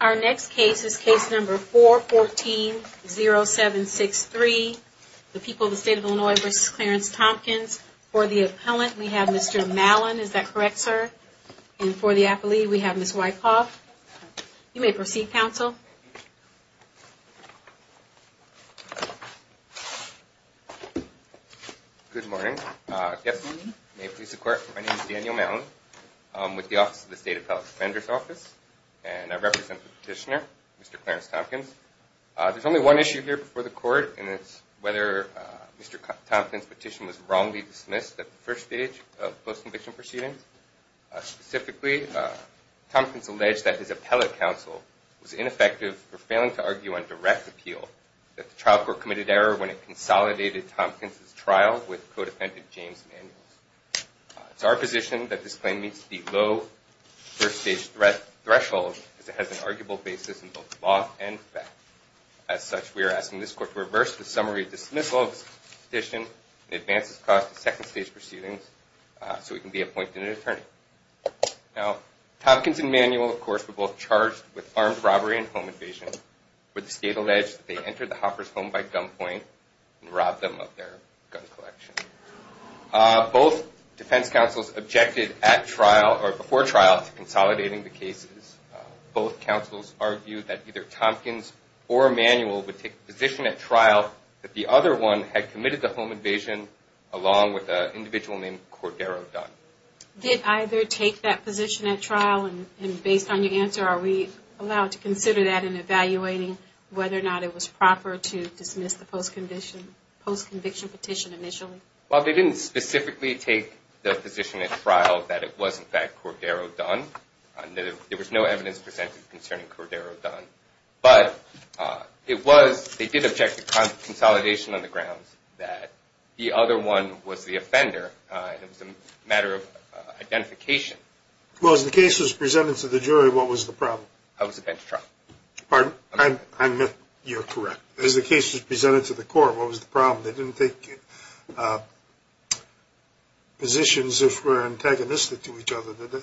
Our next case is case number 414-0763, the people of the state of Illinois v. Clarence Thompkins. For the appellant, we have Mr. Mallon. Is that correct, sir? And for the appellee, we have Ms. Wyckoff. You may proceed, counsel. Daniel Mallon Good morning. May it please the court, my name is Daniel Mallon. I'm with the office of the State Appellate Defender's Office, and I represent the petitioner, Mr. Clarence Thompkins. There's only one issue here before the court, and it's whether Mr. Thompkins' petition was wrongly dismissed at the first stage of post-conviction proceedings. Specifically, Thompkins alleged that his appellate counsel was ineffective for failing to argue on direct appeal, that the trial court committed error when it consolidated Thompkins' trial with co-defendant James Manuels. It's our position that this claim meets the low first-stage threshold, as it has an arguable basis in both law and fact. As such, we are asking this court to reverse the summary dismissal of this petition and advance its cause to second-stage proceedings so it can be appointed an attorney. Now, Thompkins and Manuel, of course, were both charged with armed robbery and home invasion, where the state alleged that they entered the Hoppers' home by gunpoint and robbed them of their gun collection. Both defense counsels objected at trial, or before trial, to consolidating the cases. Both counsels argued that either Thompkins or Manuel would take a position at trial that the other one had committed the home invasion along with an individual named Cordero Dunn. Did either take that position at trial? And based on your answer, are we allowed to consider that in evaluating whether or not it was proper to dismiss the post-conviction petition initially? Well, they didn't specifically take the position at trial that it was, in fact, Cordero Dunn. There was no evidence presented concerning Cordero Dunn. But it was, they did object to consolidation on the grounds that the other one was the offender. It was a matter of identification. Well, as the case was presented to the jury, what was the problem? It was a bench trial. Pardon? I admit you're correct. As the case was presented to the court, what was the problem? They didn't take positions that were antagonistic to each other, did they?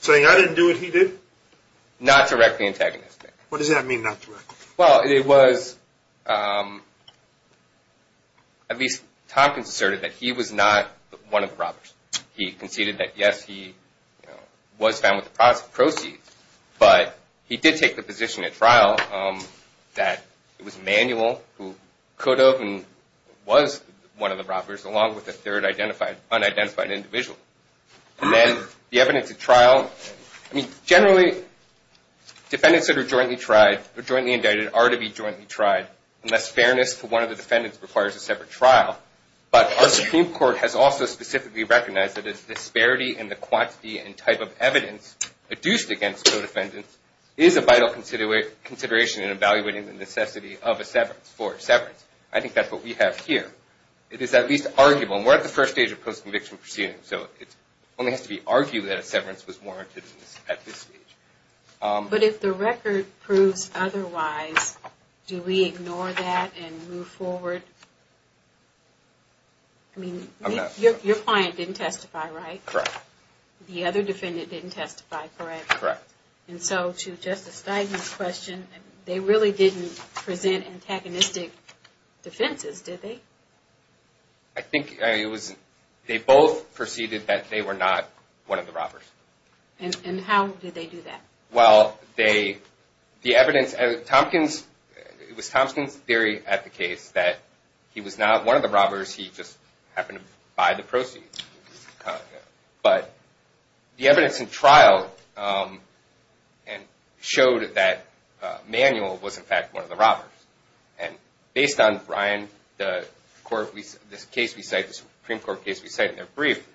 Saying, I didn't do it, he did? Not directly antagonistic. What does that mean, not directly? Well, it was, at least Tompkins asserted that he was not one of the robbers. He conceded that, yes, he was found with the proceeds. But he did take the position at trial that it was Emanuel who could have and was one of the robbers along with a third unidentified individual. And then the evidence at trial, I mean, generally defendants that are jointly tried or jointly indicted are to be jointly tried unless fairness to one of the defendants requires a separate trial. But our Supreme Court has also specifically recognized that a disparity in the quantity and type of evidence adduced against co-defendants is a vital consideration in evaluating the necessity for severance. I think that's what we have here. It is at least arguable, and we're at the first stage of post-conviction proceedings, so it only has to be argued that a severance was warranted at this stage. But if the record proves otherwise, do we ignore that and move forward? I mean, your client didn't testify, right? Correct. The other defendant didn't testify, correct? Correct. And so to Justice Stein's question, they really didn't present antagonistic defenses, did they? I think it was, they both proceeded that they were not one of the robbers. And how did they do that? Well, they, the evidence, it was Thompson's theory at the case that he was not one of the robbers, he just happened to buy the proceeds. But the evidence in trial showed that Manuel was, in fact, one of the robbers. And based on Ryan, the Supreme Court case we cite in their brief,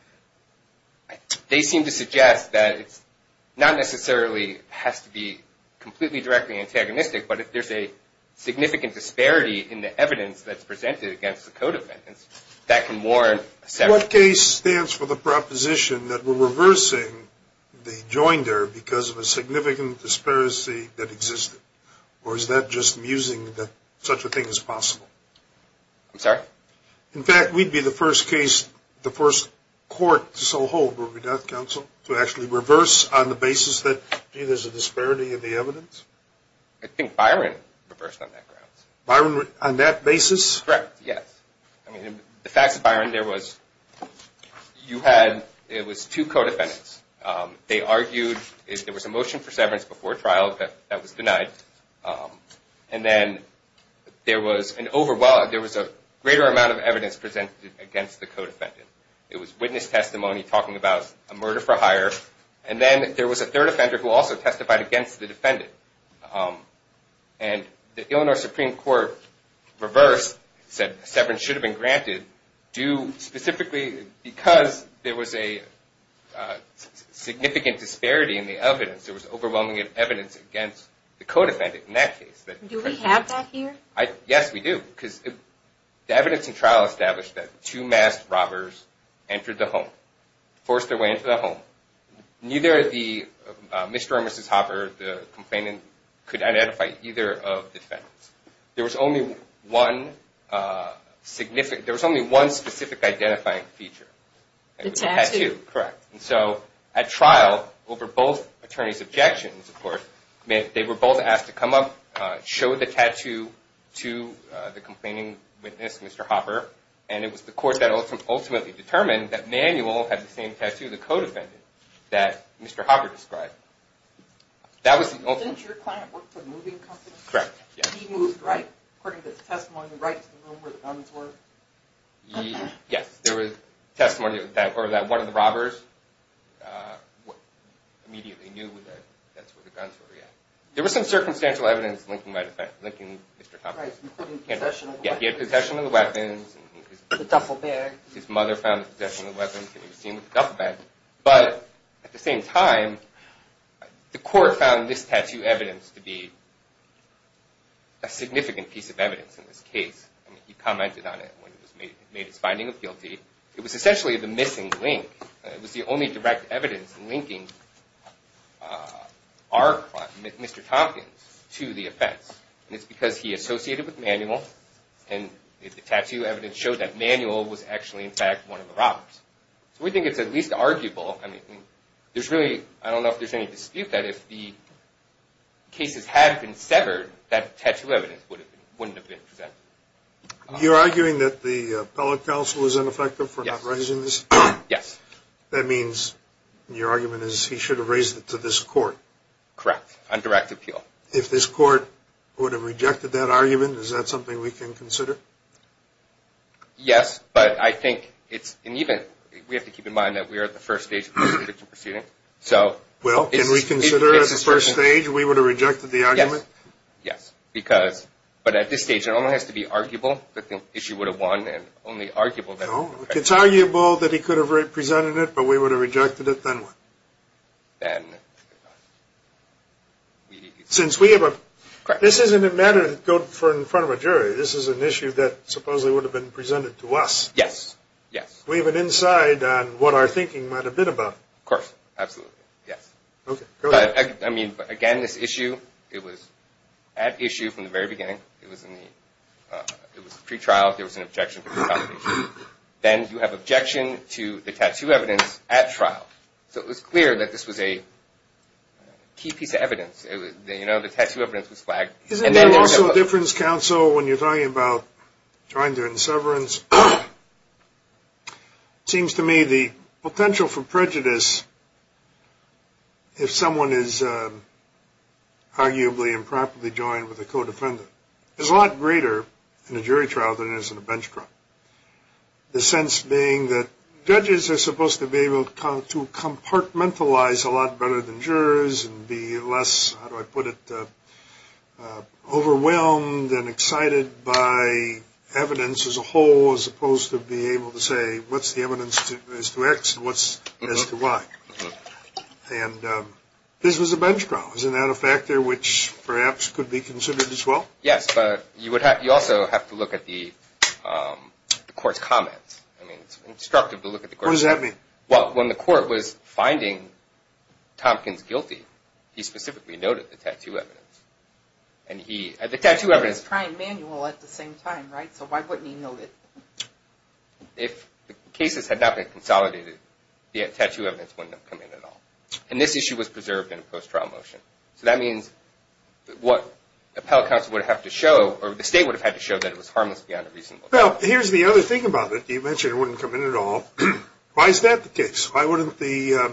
they seem to suggest that it's not necessarily has to be completely directly antagonistic, but if there's a significant disparity in the evidence that's presented against the co-defendants, that can warrant a severance. In what case stands for the proposition that we're reversing the joinder because of a significant disparity that existed? Or is that just musing that such a thing is possible? I'm sorry? In fact, we'd be the first case, the first court to so hold, would we not, counsel, to actually reverse on the basis that, gee, there's a disparity in the evidence? I think Byron reversed on that grounds. Byron, on that basis? Correct, yes. The fact is, Byron, there was two co-defendants. They argued there was a motion for severance before trial that was denied. And then there was a greater amount of evidence presented against the co-defendant. It was witness testimony talking about a murder for hire. And then there was a third offender who also testified against the defendant. And the Illinois Supreme Court reversed, said severance should have been granted due specifically because there was a significant disparity in the evidence. There was overwhelming evidence against the co-defendant in that case. Do we have that here? Yes, we do. Because the evidence in trial established that two masked robbers entered the home, forced their way into the home. Neither the Mr. or Mrs. Hopper, the complainant, could identify either of the defendants. There was only one specific identifying feature. The tattoo. Correct. And so at trial, over both attorneys' objections, of course, they were both asked to come up, show the tattoo to the complaining witness, Mr. Hopper. And it was the court that ultimately determined that Manuel had the same tattoo, the co-defendant, that Mr. Hopper described. Didn't your client work for a moving company? Correct. He moved, right? According to the testimony, right to the room where the guns were? Yes. There was testimony that one of the robbers immediately knew that that's where the guns were. There was some circumstantial evidence linking Mr. Hopper. Including possession of the weapons. The duffel bag. His mother found him possessing the weapons, and he was seen with the duffel bag. But at the same time, the court found this tattoo evidence to be a significant piece of evidence in this case. He commented on it when he made his finding of guilty. It was essentially the missing link. It was the only direct evidence linking our client, Mr. Tompkins, to the offense. And it's because he associated with Manuel, and the tattoo evidence showed that Manuel was actually, in fact, one of the robbers. So we think it's at least arguable. I don't know if there's any dispute that if the cases had been severed, that tattoo evidence wouldn't have been presented. You're arguing that the appellate counsel was ineffective for not raising this? Yes. That means your argument is he should have raised it to this court. Correct. On direct appeal. If this court would have rejected that argument, is that something we can consider? Yes, but I think it's – and even – we have to keep in mind that we are at the first stage of this conviction proceeding. Well, can we consider at the first stage we would have rejected the argument? Yes, because – but at this stage, it only has to be arguable that the issue would have won, and only arguable that – No, if it's arguable that he could have presented it, but we would have rejected it, then what? Since we have a – this isn't a matter to go in front of a jury. This is an issue that supposedly would have been presented to us. Yes, yes. We have an insight on what our thinking might have been about it. Of course, absolutely, yes. Okay, go ahead. I mean, again, this issue, it was at issue from the very beginning. It was in the – it was pre-trial. There was an objection from the foundation. Then you have objection to the tattoo evidence at trial. So it was clear that this was a key piece of evidence. You know, the tattoo evidence was flagged. Isn't there also a difference, counsel, when you're talking about trying to end severance? It seems to me the potential for prejudice, if someone is arguably improperly joined with a co-defendant, is a lot greater in a jury trial than it is in a bench trial. The sense being that judges are supposed to be able to compartmentalize a lot better than jurors and be less, how do I put it, overwhelmed and excited by evidence as a whole as opposed to be able to say what's the evidence as to X and what's as to Y. And this was a bench trial. Isn't that a factor which perhaps could be considered as well? Yes, but you also have to look at the court's comments. I mean, it's instructive to look at the court's comments. What does that mean? Well, when the court was finding Tompkins guilty, he specifically noted the tattoo evidence. And he – the tattoo evidence – And he was trying manual at the same time, right? So why wouldn't he note it? If the cases had not been consolidated, the tattoo evidence wouldn't have come in at all. And this issue was preserved in a post-trial motion. So that means what the appellate counsel would have to show or the state would have had to show that it was harmless beyond a reasonable doubt. Well, here's the other thing about it. You mentioned it wouldn't come in at all. Why is that the case? Why wouldn't the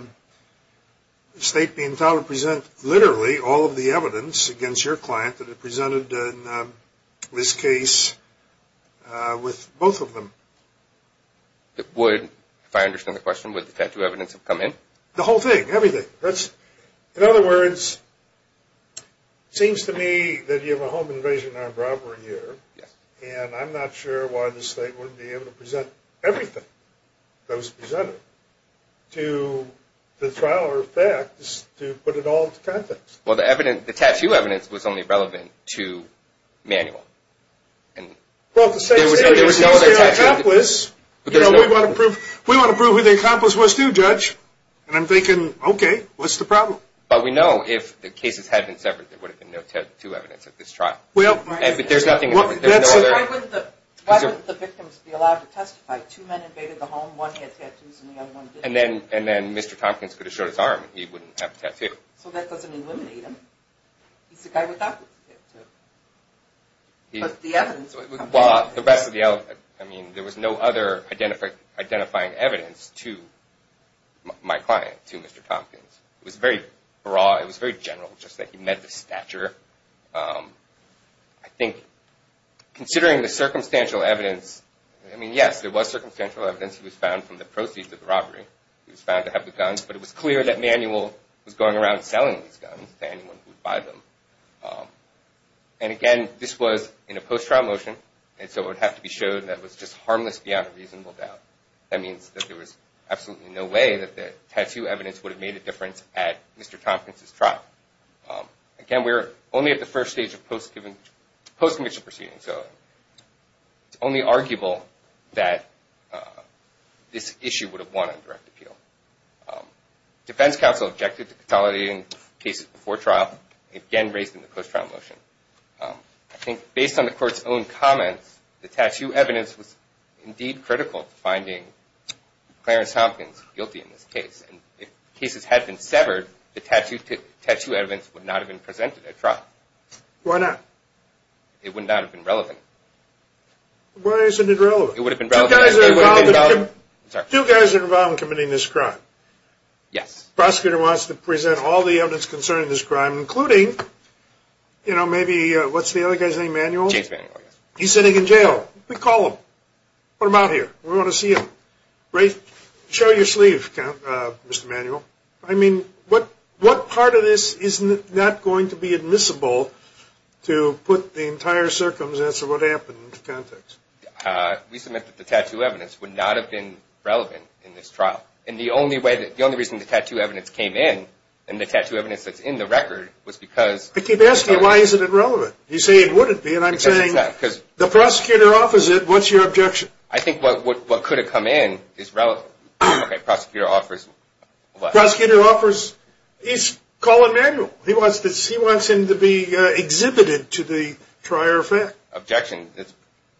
state be entitled to present literally all of the evidence against your client that it presented in this case with both of them? It would, if I understand the question. Would the tattoo evidence have come in? The whole thing, everything. In other words, it seems to me that you have a home invasion and armed robbery here, and I'm not sure why the state wouldn't be able to present everything that was presented to the trial or the facts to put it all into context. Well, the tattoo evidence was only relevant to manual. Well, there was no other tattoo evidence. We want to prove who the accomplice was too, Judge. And I'm thinking, okay, what's the problem? Well, we know if the cases had been severed, there would have been no tattoo evidence at this trial. But there's nothing else. Why wouldn't the victims be allowed to testify? Two men invaded the home. One had tattoos and the other one didn't. And then Mr. Tompkins could have showed his arm and he wouldn't have a tattoo. So that doesn't eliminate him. He's the guy without the tattoo. But the evidence would come in. I mean, there was no other identifying evidence to my client, to Mr. Tompkins. It was very broad. It was very general, just that he met the stature. I think considering the circumstantial evidence, I mean, yes, there was circumstantial evidence. He was found from the proceeds of the robbery. He was found to have the guns. But it was clear that manual was going around selling these guns to anyone who would buy them. And again, this was in a post-trial motion. And so it would have to be shown that it was just harmless beyond a reasonable doubt. That means that there was absolutely no way that the tattoo evidence would have made a difference at Mr. Tompkins' trial. Again, we're only at the first stage of post-conviction proceedings. So it's only arguable that this issue would have won on direct appeal. Defense counsel objected to consolidating cases before trial, again raised in the post-trial motion. I think based on the court's own comments, the tattoo evidence was indeed critical to finding Clarence Tompkins guilty in this case. And if cases had been severed, the tattoo evidence would not have been presented at trial. Why not? It would not have been relevant. It would have been relevant. Do you guys are involved in committing this crime? Yes. The prosecutor wants to present all the evidence concerning this crime, including, you know, maybe, what's the other guy's name? Manuel? James Manuel, yes. He's sitting in jail. We call him. What about here? We want to see him. Show your sleeve, Mr. Manuel. I mean, what part of this is not going to be admissible to put the entire circumstance of what happened into context? We submit that the tattoo evidence would not have been relevant in this trial. And the only reason the tattoo evidence came in, and the tattoo evidence that's in the record, was because... I keep asking you, why isn't it relevant? You say it wouldn't be, and I'm saying the prosecutor offers it. What's your objection? I think what could have come in is relevant. Okay, prosecutor offers what? Prosecutor offers... he's calling Manuel. He wants him to be exhibited to the trier of fact. Objection. It's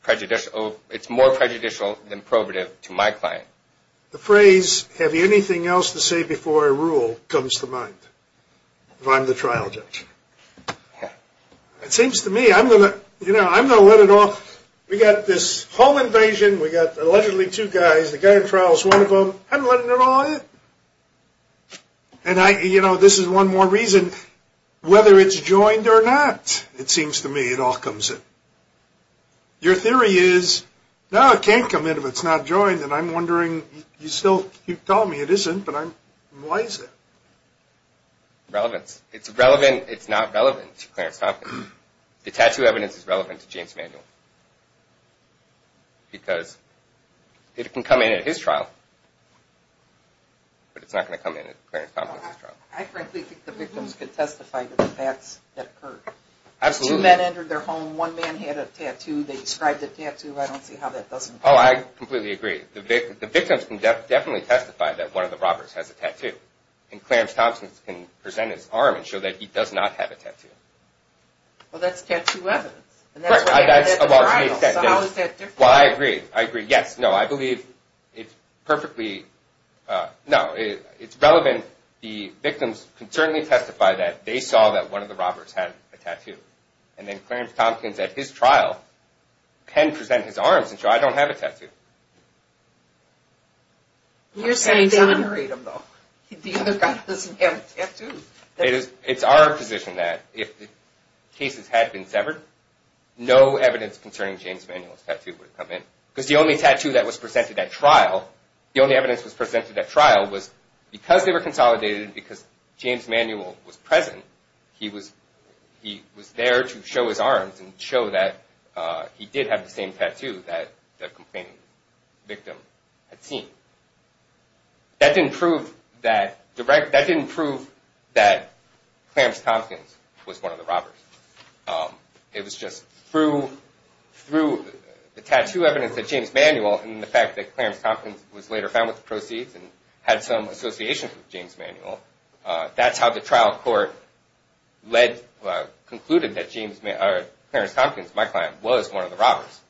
prejudicial. It's more prejudicial than probative to my client. The phrase, have you anything else to say before I rule, comes to mind. If I'm the trial judge. It seems to me, I'm going to let it off. We've got this home invasion. We've got, allegedly, two guys. The guy in trial is one of them. I'm letting it all out. And, you know, this is one more reason. Whether it's joined or not, it seems to me, it all comes in. Your theory is, no, it can't come in if it's not joined. And I'm wondering, you still keep telling me it isn't, but why is it? Relevance. It's relevant. It's not relevant to Clarence Tompkins. The tattoo evidence is relevant to James Manuel. Because it can come in at his trial, but it's not going to come in at Clarence Tompkins' trial. I frankly think the victims can testify to the facts that occurred. Absolutely. Two men entered their home. One man had a tattoo. They described the tattoo. I don't see how that doesn't come in. Oh, I completely agree. The victims can definitely testify that one of the robbers has a tattoo. And Clarence Tompkins can present his arm and show that he does not have a tattoo. Well, that's tattoo evidence. Well, I agree. I agree. Yes. No. I believe it's perfectly – no. It's relevant. The victims can certainly testify that they saw that one of the robbers had a tattoo. And then Clarence Tompkins, at his trial, can present his arms and show, I don't have a tattoo. You're saying that the other guy doesn't have a tattoo. It's our position that if the cases had been severed, no evidence concerning James Manuel's tattoo would have come in. Because the only tattoo that was presented at trial, the only evidence that was presented at trial, was because they were consolidated, because James Manuel was present, he was there to show his arms and show that he did have the same tattoo that the complaining victim had seen. That didn't prove that Clarence Tompkins was one of the robbers. It was just through the tattoo evidence that James Manuel and the fact that Clarence Tompkins was later found with the proceeds and had some association with James Manuel, that's how the trial court concluded that Clarence Tompkins, my client, was one of the robbers.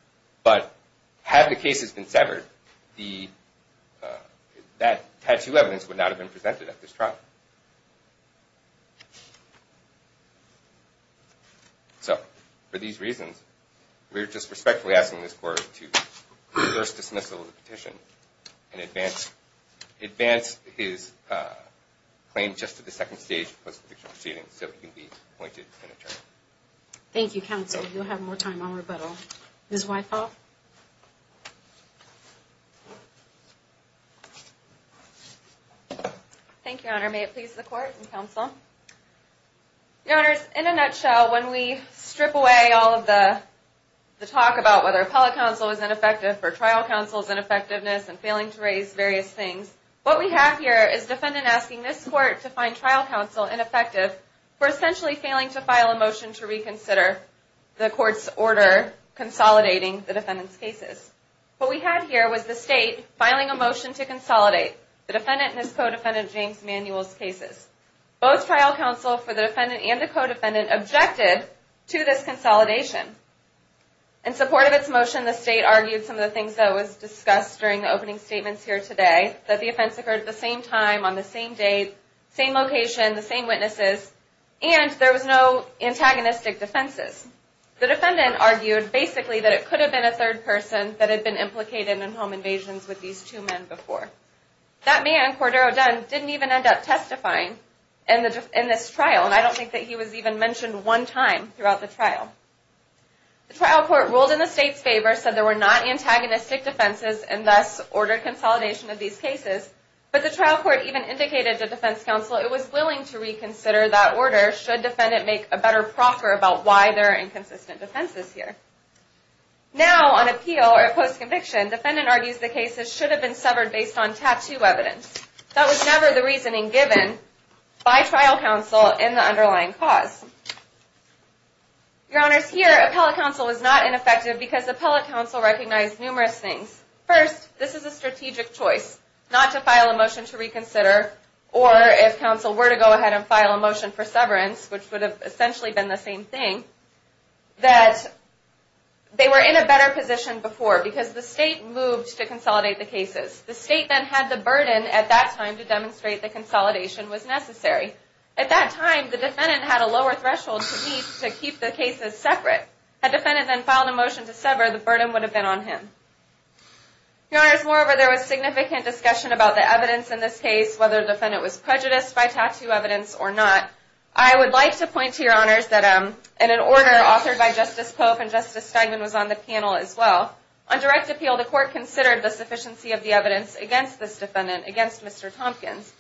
But had the cases been severed, that tattoo evidence would not have been presented at this trial. So, for these reasons, we're just respectfully asking this court to reverse dismissal of the petition and advance his claim just at the second stage of the post-petition proceedings so he can be appointed an attorney. Thank you, counsel. You'll have more time on rebuttal. Ms. Weickoff. Thank you, Your Honor. May it please the court and counsel. Your Honors, in a nutshell, when we strip away all of the talk about whether appellate counsel is ineffective or trial counsel's ineffectiveness and failing to raise various things, what we have here is defendant asking this court to find trial counsel ineffective for essentially failing to file a motion to reconsider the court's order consolidating the defendant's cases. What we have here was the state filing a motion to consolidate the defendant and his co-defendant James Manuel's cases. Both trial counsel for the defendant and the co-defendant objected to this consolidation. In support of its motion, the state argued some of the things that was discussed during the opening statements here today, that the offense occurred at the same time, on the same day, same location, the same witnesses, and there was no antagonistic defenses. The defendant argued basically that it could have been a third person that had been implicated in home invasions with these two men before. That man, Cordero Dunn, didn't even end up testifying in this trial, and I don't think that he was even mentioned one time throughout the trial. The trial court ruled in the state's favor, said there were not antagonistic defenses, and thus ordered consolidation of these cases. But the trial court even indicated to defense counsel it was willing to reconsider that order should defendant make a better proffer about why there are inconsistent defenses here. Now, on appeal or post-conviction, defendant argues the cases should have been severed based on tattoo evidence. That was never the reasoning given by trial counsel in the underlying cause. Your Honors, here, appellate counsel was not ineffective because appellate counsel recognized numerous things. First, this is a strategic choice, not to file a motion to reconsider, or if counsel were to go ahead and file a motion for severance, which would have essentially been the same thing, that they were in a better position before because the state moved to consolidate the cases. The state then had the burden at that time to demonstrate that consolidation was necessary. At that time, the defendant had a lower threshold to meet to keep the cases separate. Had defendant then filed a motion to sever, the burden would have been on him. Your Honors, moreover, there was significant discussion about the evidence in this case, whether the defendant was prejudiced by tattoo evidence or not. I would like to point to Your Honors that an order authored by Justice Pope and Justice Steinman was on the panel as well. On direct appeal, the court considered the sufficiency of the evidence against this defendant, against Mr. Tompkins.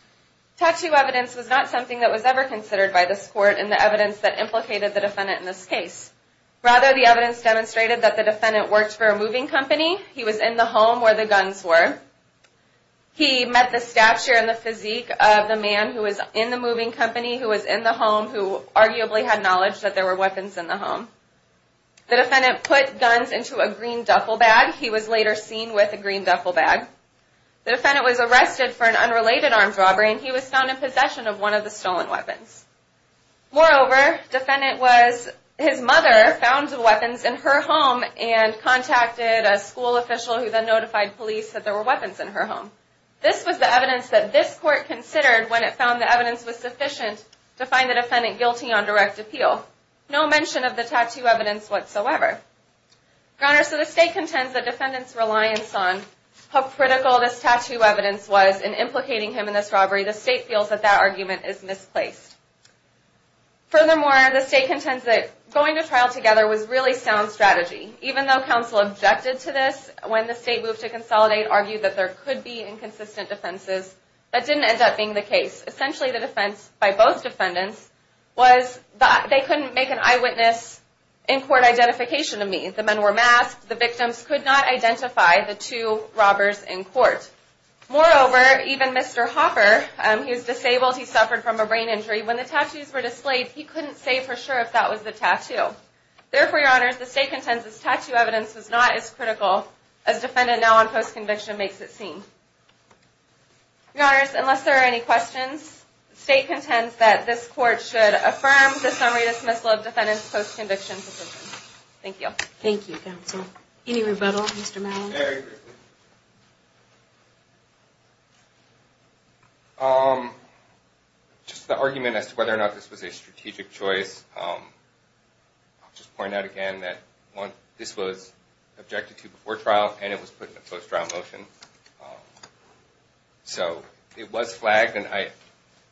Tattoo evidence was not something that was ever considered by this court in the evidence that implicated the defendant in this case. Rather, the evidence demonstrated that the defendant worked for a moving company. He was in the home where the guns were. He met the stature and the physique of the man who was in the moving company, who was in the home, who arguably had knowledge that there were weapons in the home. The defendant put guns into a green duffel bag. He was later seen with a green duffel bag. The defendant was arrested for an unrelated armed robbery, and he was found in possession of one of the stolen weapons. Moreover, his mother found the weapons in her home and contacted a school official, who then notified police that there were weapons in her home. This was the evidence that this court considered when it found the evidence was sufficient to find the defendant guilty on direct appeal. No mention of the tattoo evidence whatsoever. Your Honor, so the state contends that defendants' reliance on how critical this tattoo evidence was in implicating him in this robbery, the state feels that that argument is misplaced. Furthermore, the state contends that going to trial together was really sound strategy. Even though counsel objected to this when the state moved to consolidate, argued that there could be inconsistent defenses, that didn't end up being the case. Essentially, the defense by both defendants was that they couldn't make an eyewitness in-court identification of me. The men were masked. The victims could not identify the two robbers in court. Moreover, even Mr. Hopper, he was disabled. He suffered from a brain injury. When the tattoos were displayed, he couldn't say for sure if that was the tattoo. Therefore, Your Honor, the state contends this tattoo evidence was not as critical as defendant now on post-conviction makes it seem. Your Honors, unless there are any questions, the state contends that this court should affirm the summary dismissal of defendants' post-conviction position. Thank you. Thank you, counsel. Any rebuttal, Mr. Mallon? Very briefly. Just the argument as to whether or not this was a strategic choice, I'll just point out again that this was objected to before trial and it was put in a post-trial motion. So it was flagged and I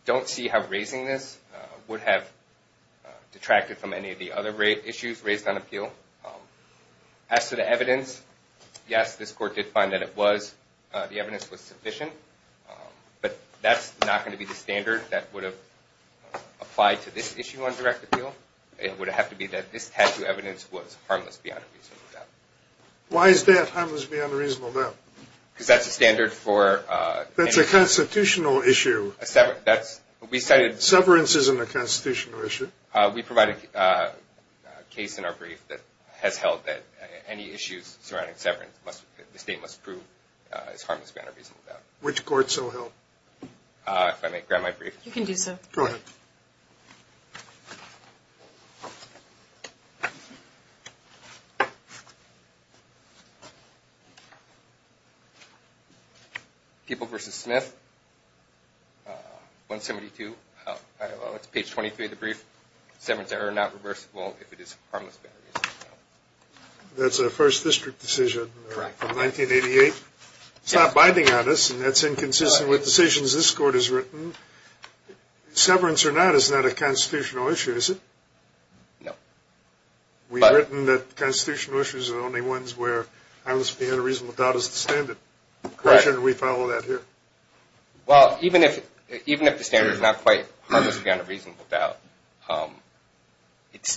don't see how raising this would have detracted from any of the other issues raised on appeal. As to the evidence, yes, this court did find that it was, the evidence was sufficient. But that's not going to be the standard that would have applied to this issue on direct appeal. It would have to be that this tattoo evidence was harmless beyond a reasonable doubt. Why is that harmless beyond a reasonable doubt? Because that's a standard for- That's a constitutional issue. We cited- Severance isn't a constitutional issue. We provided a case in our brief that has held that any issues surrounding severance, the state must prove it's harmless beyond a reasonable doubt. Which court so held? If I may grab my brief. You can do so. Go ahead. People v. Smith, 172, page 23 of the brief. Severance error not reversible if it is harmless beyond a reasonable doubt. That's a first district decision from 1988. It's not binding on us and that's inconsistent with decisions this court has written. Severance or not is not a constitutional issue, is it? No. We've written that constitutional issues are the only ones where harmless beyond a reasonable doubt is the standard. Correct. Why shouldn't we follow that here? Well, even if the standard is not quite harmless beyond a reasonable doubt, it's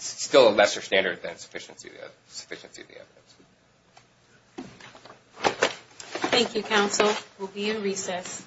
still a lesser standard than sufficiency of the evidence. Thank you, counsel. We'll be in recess.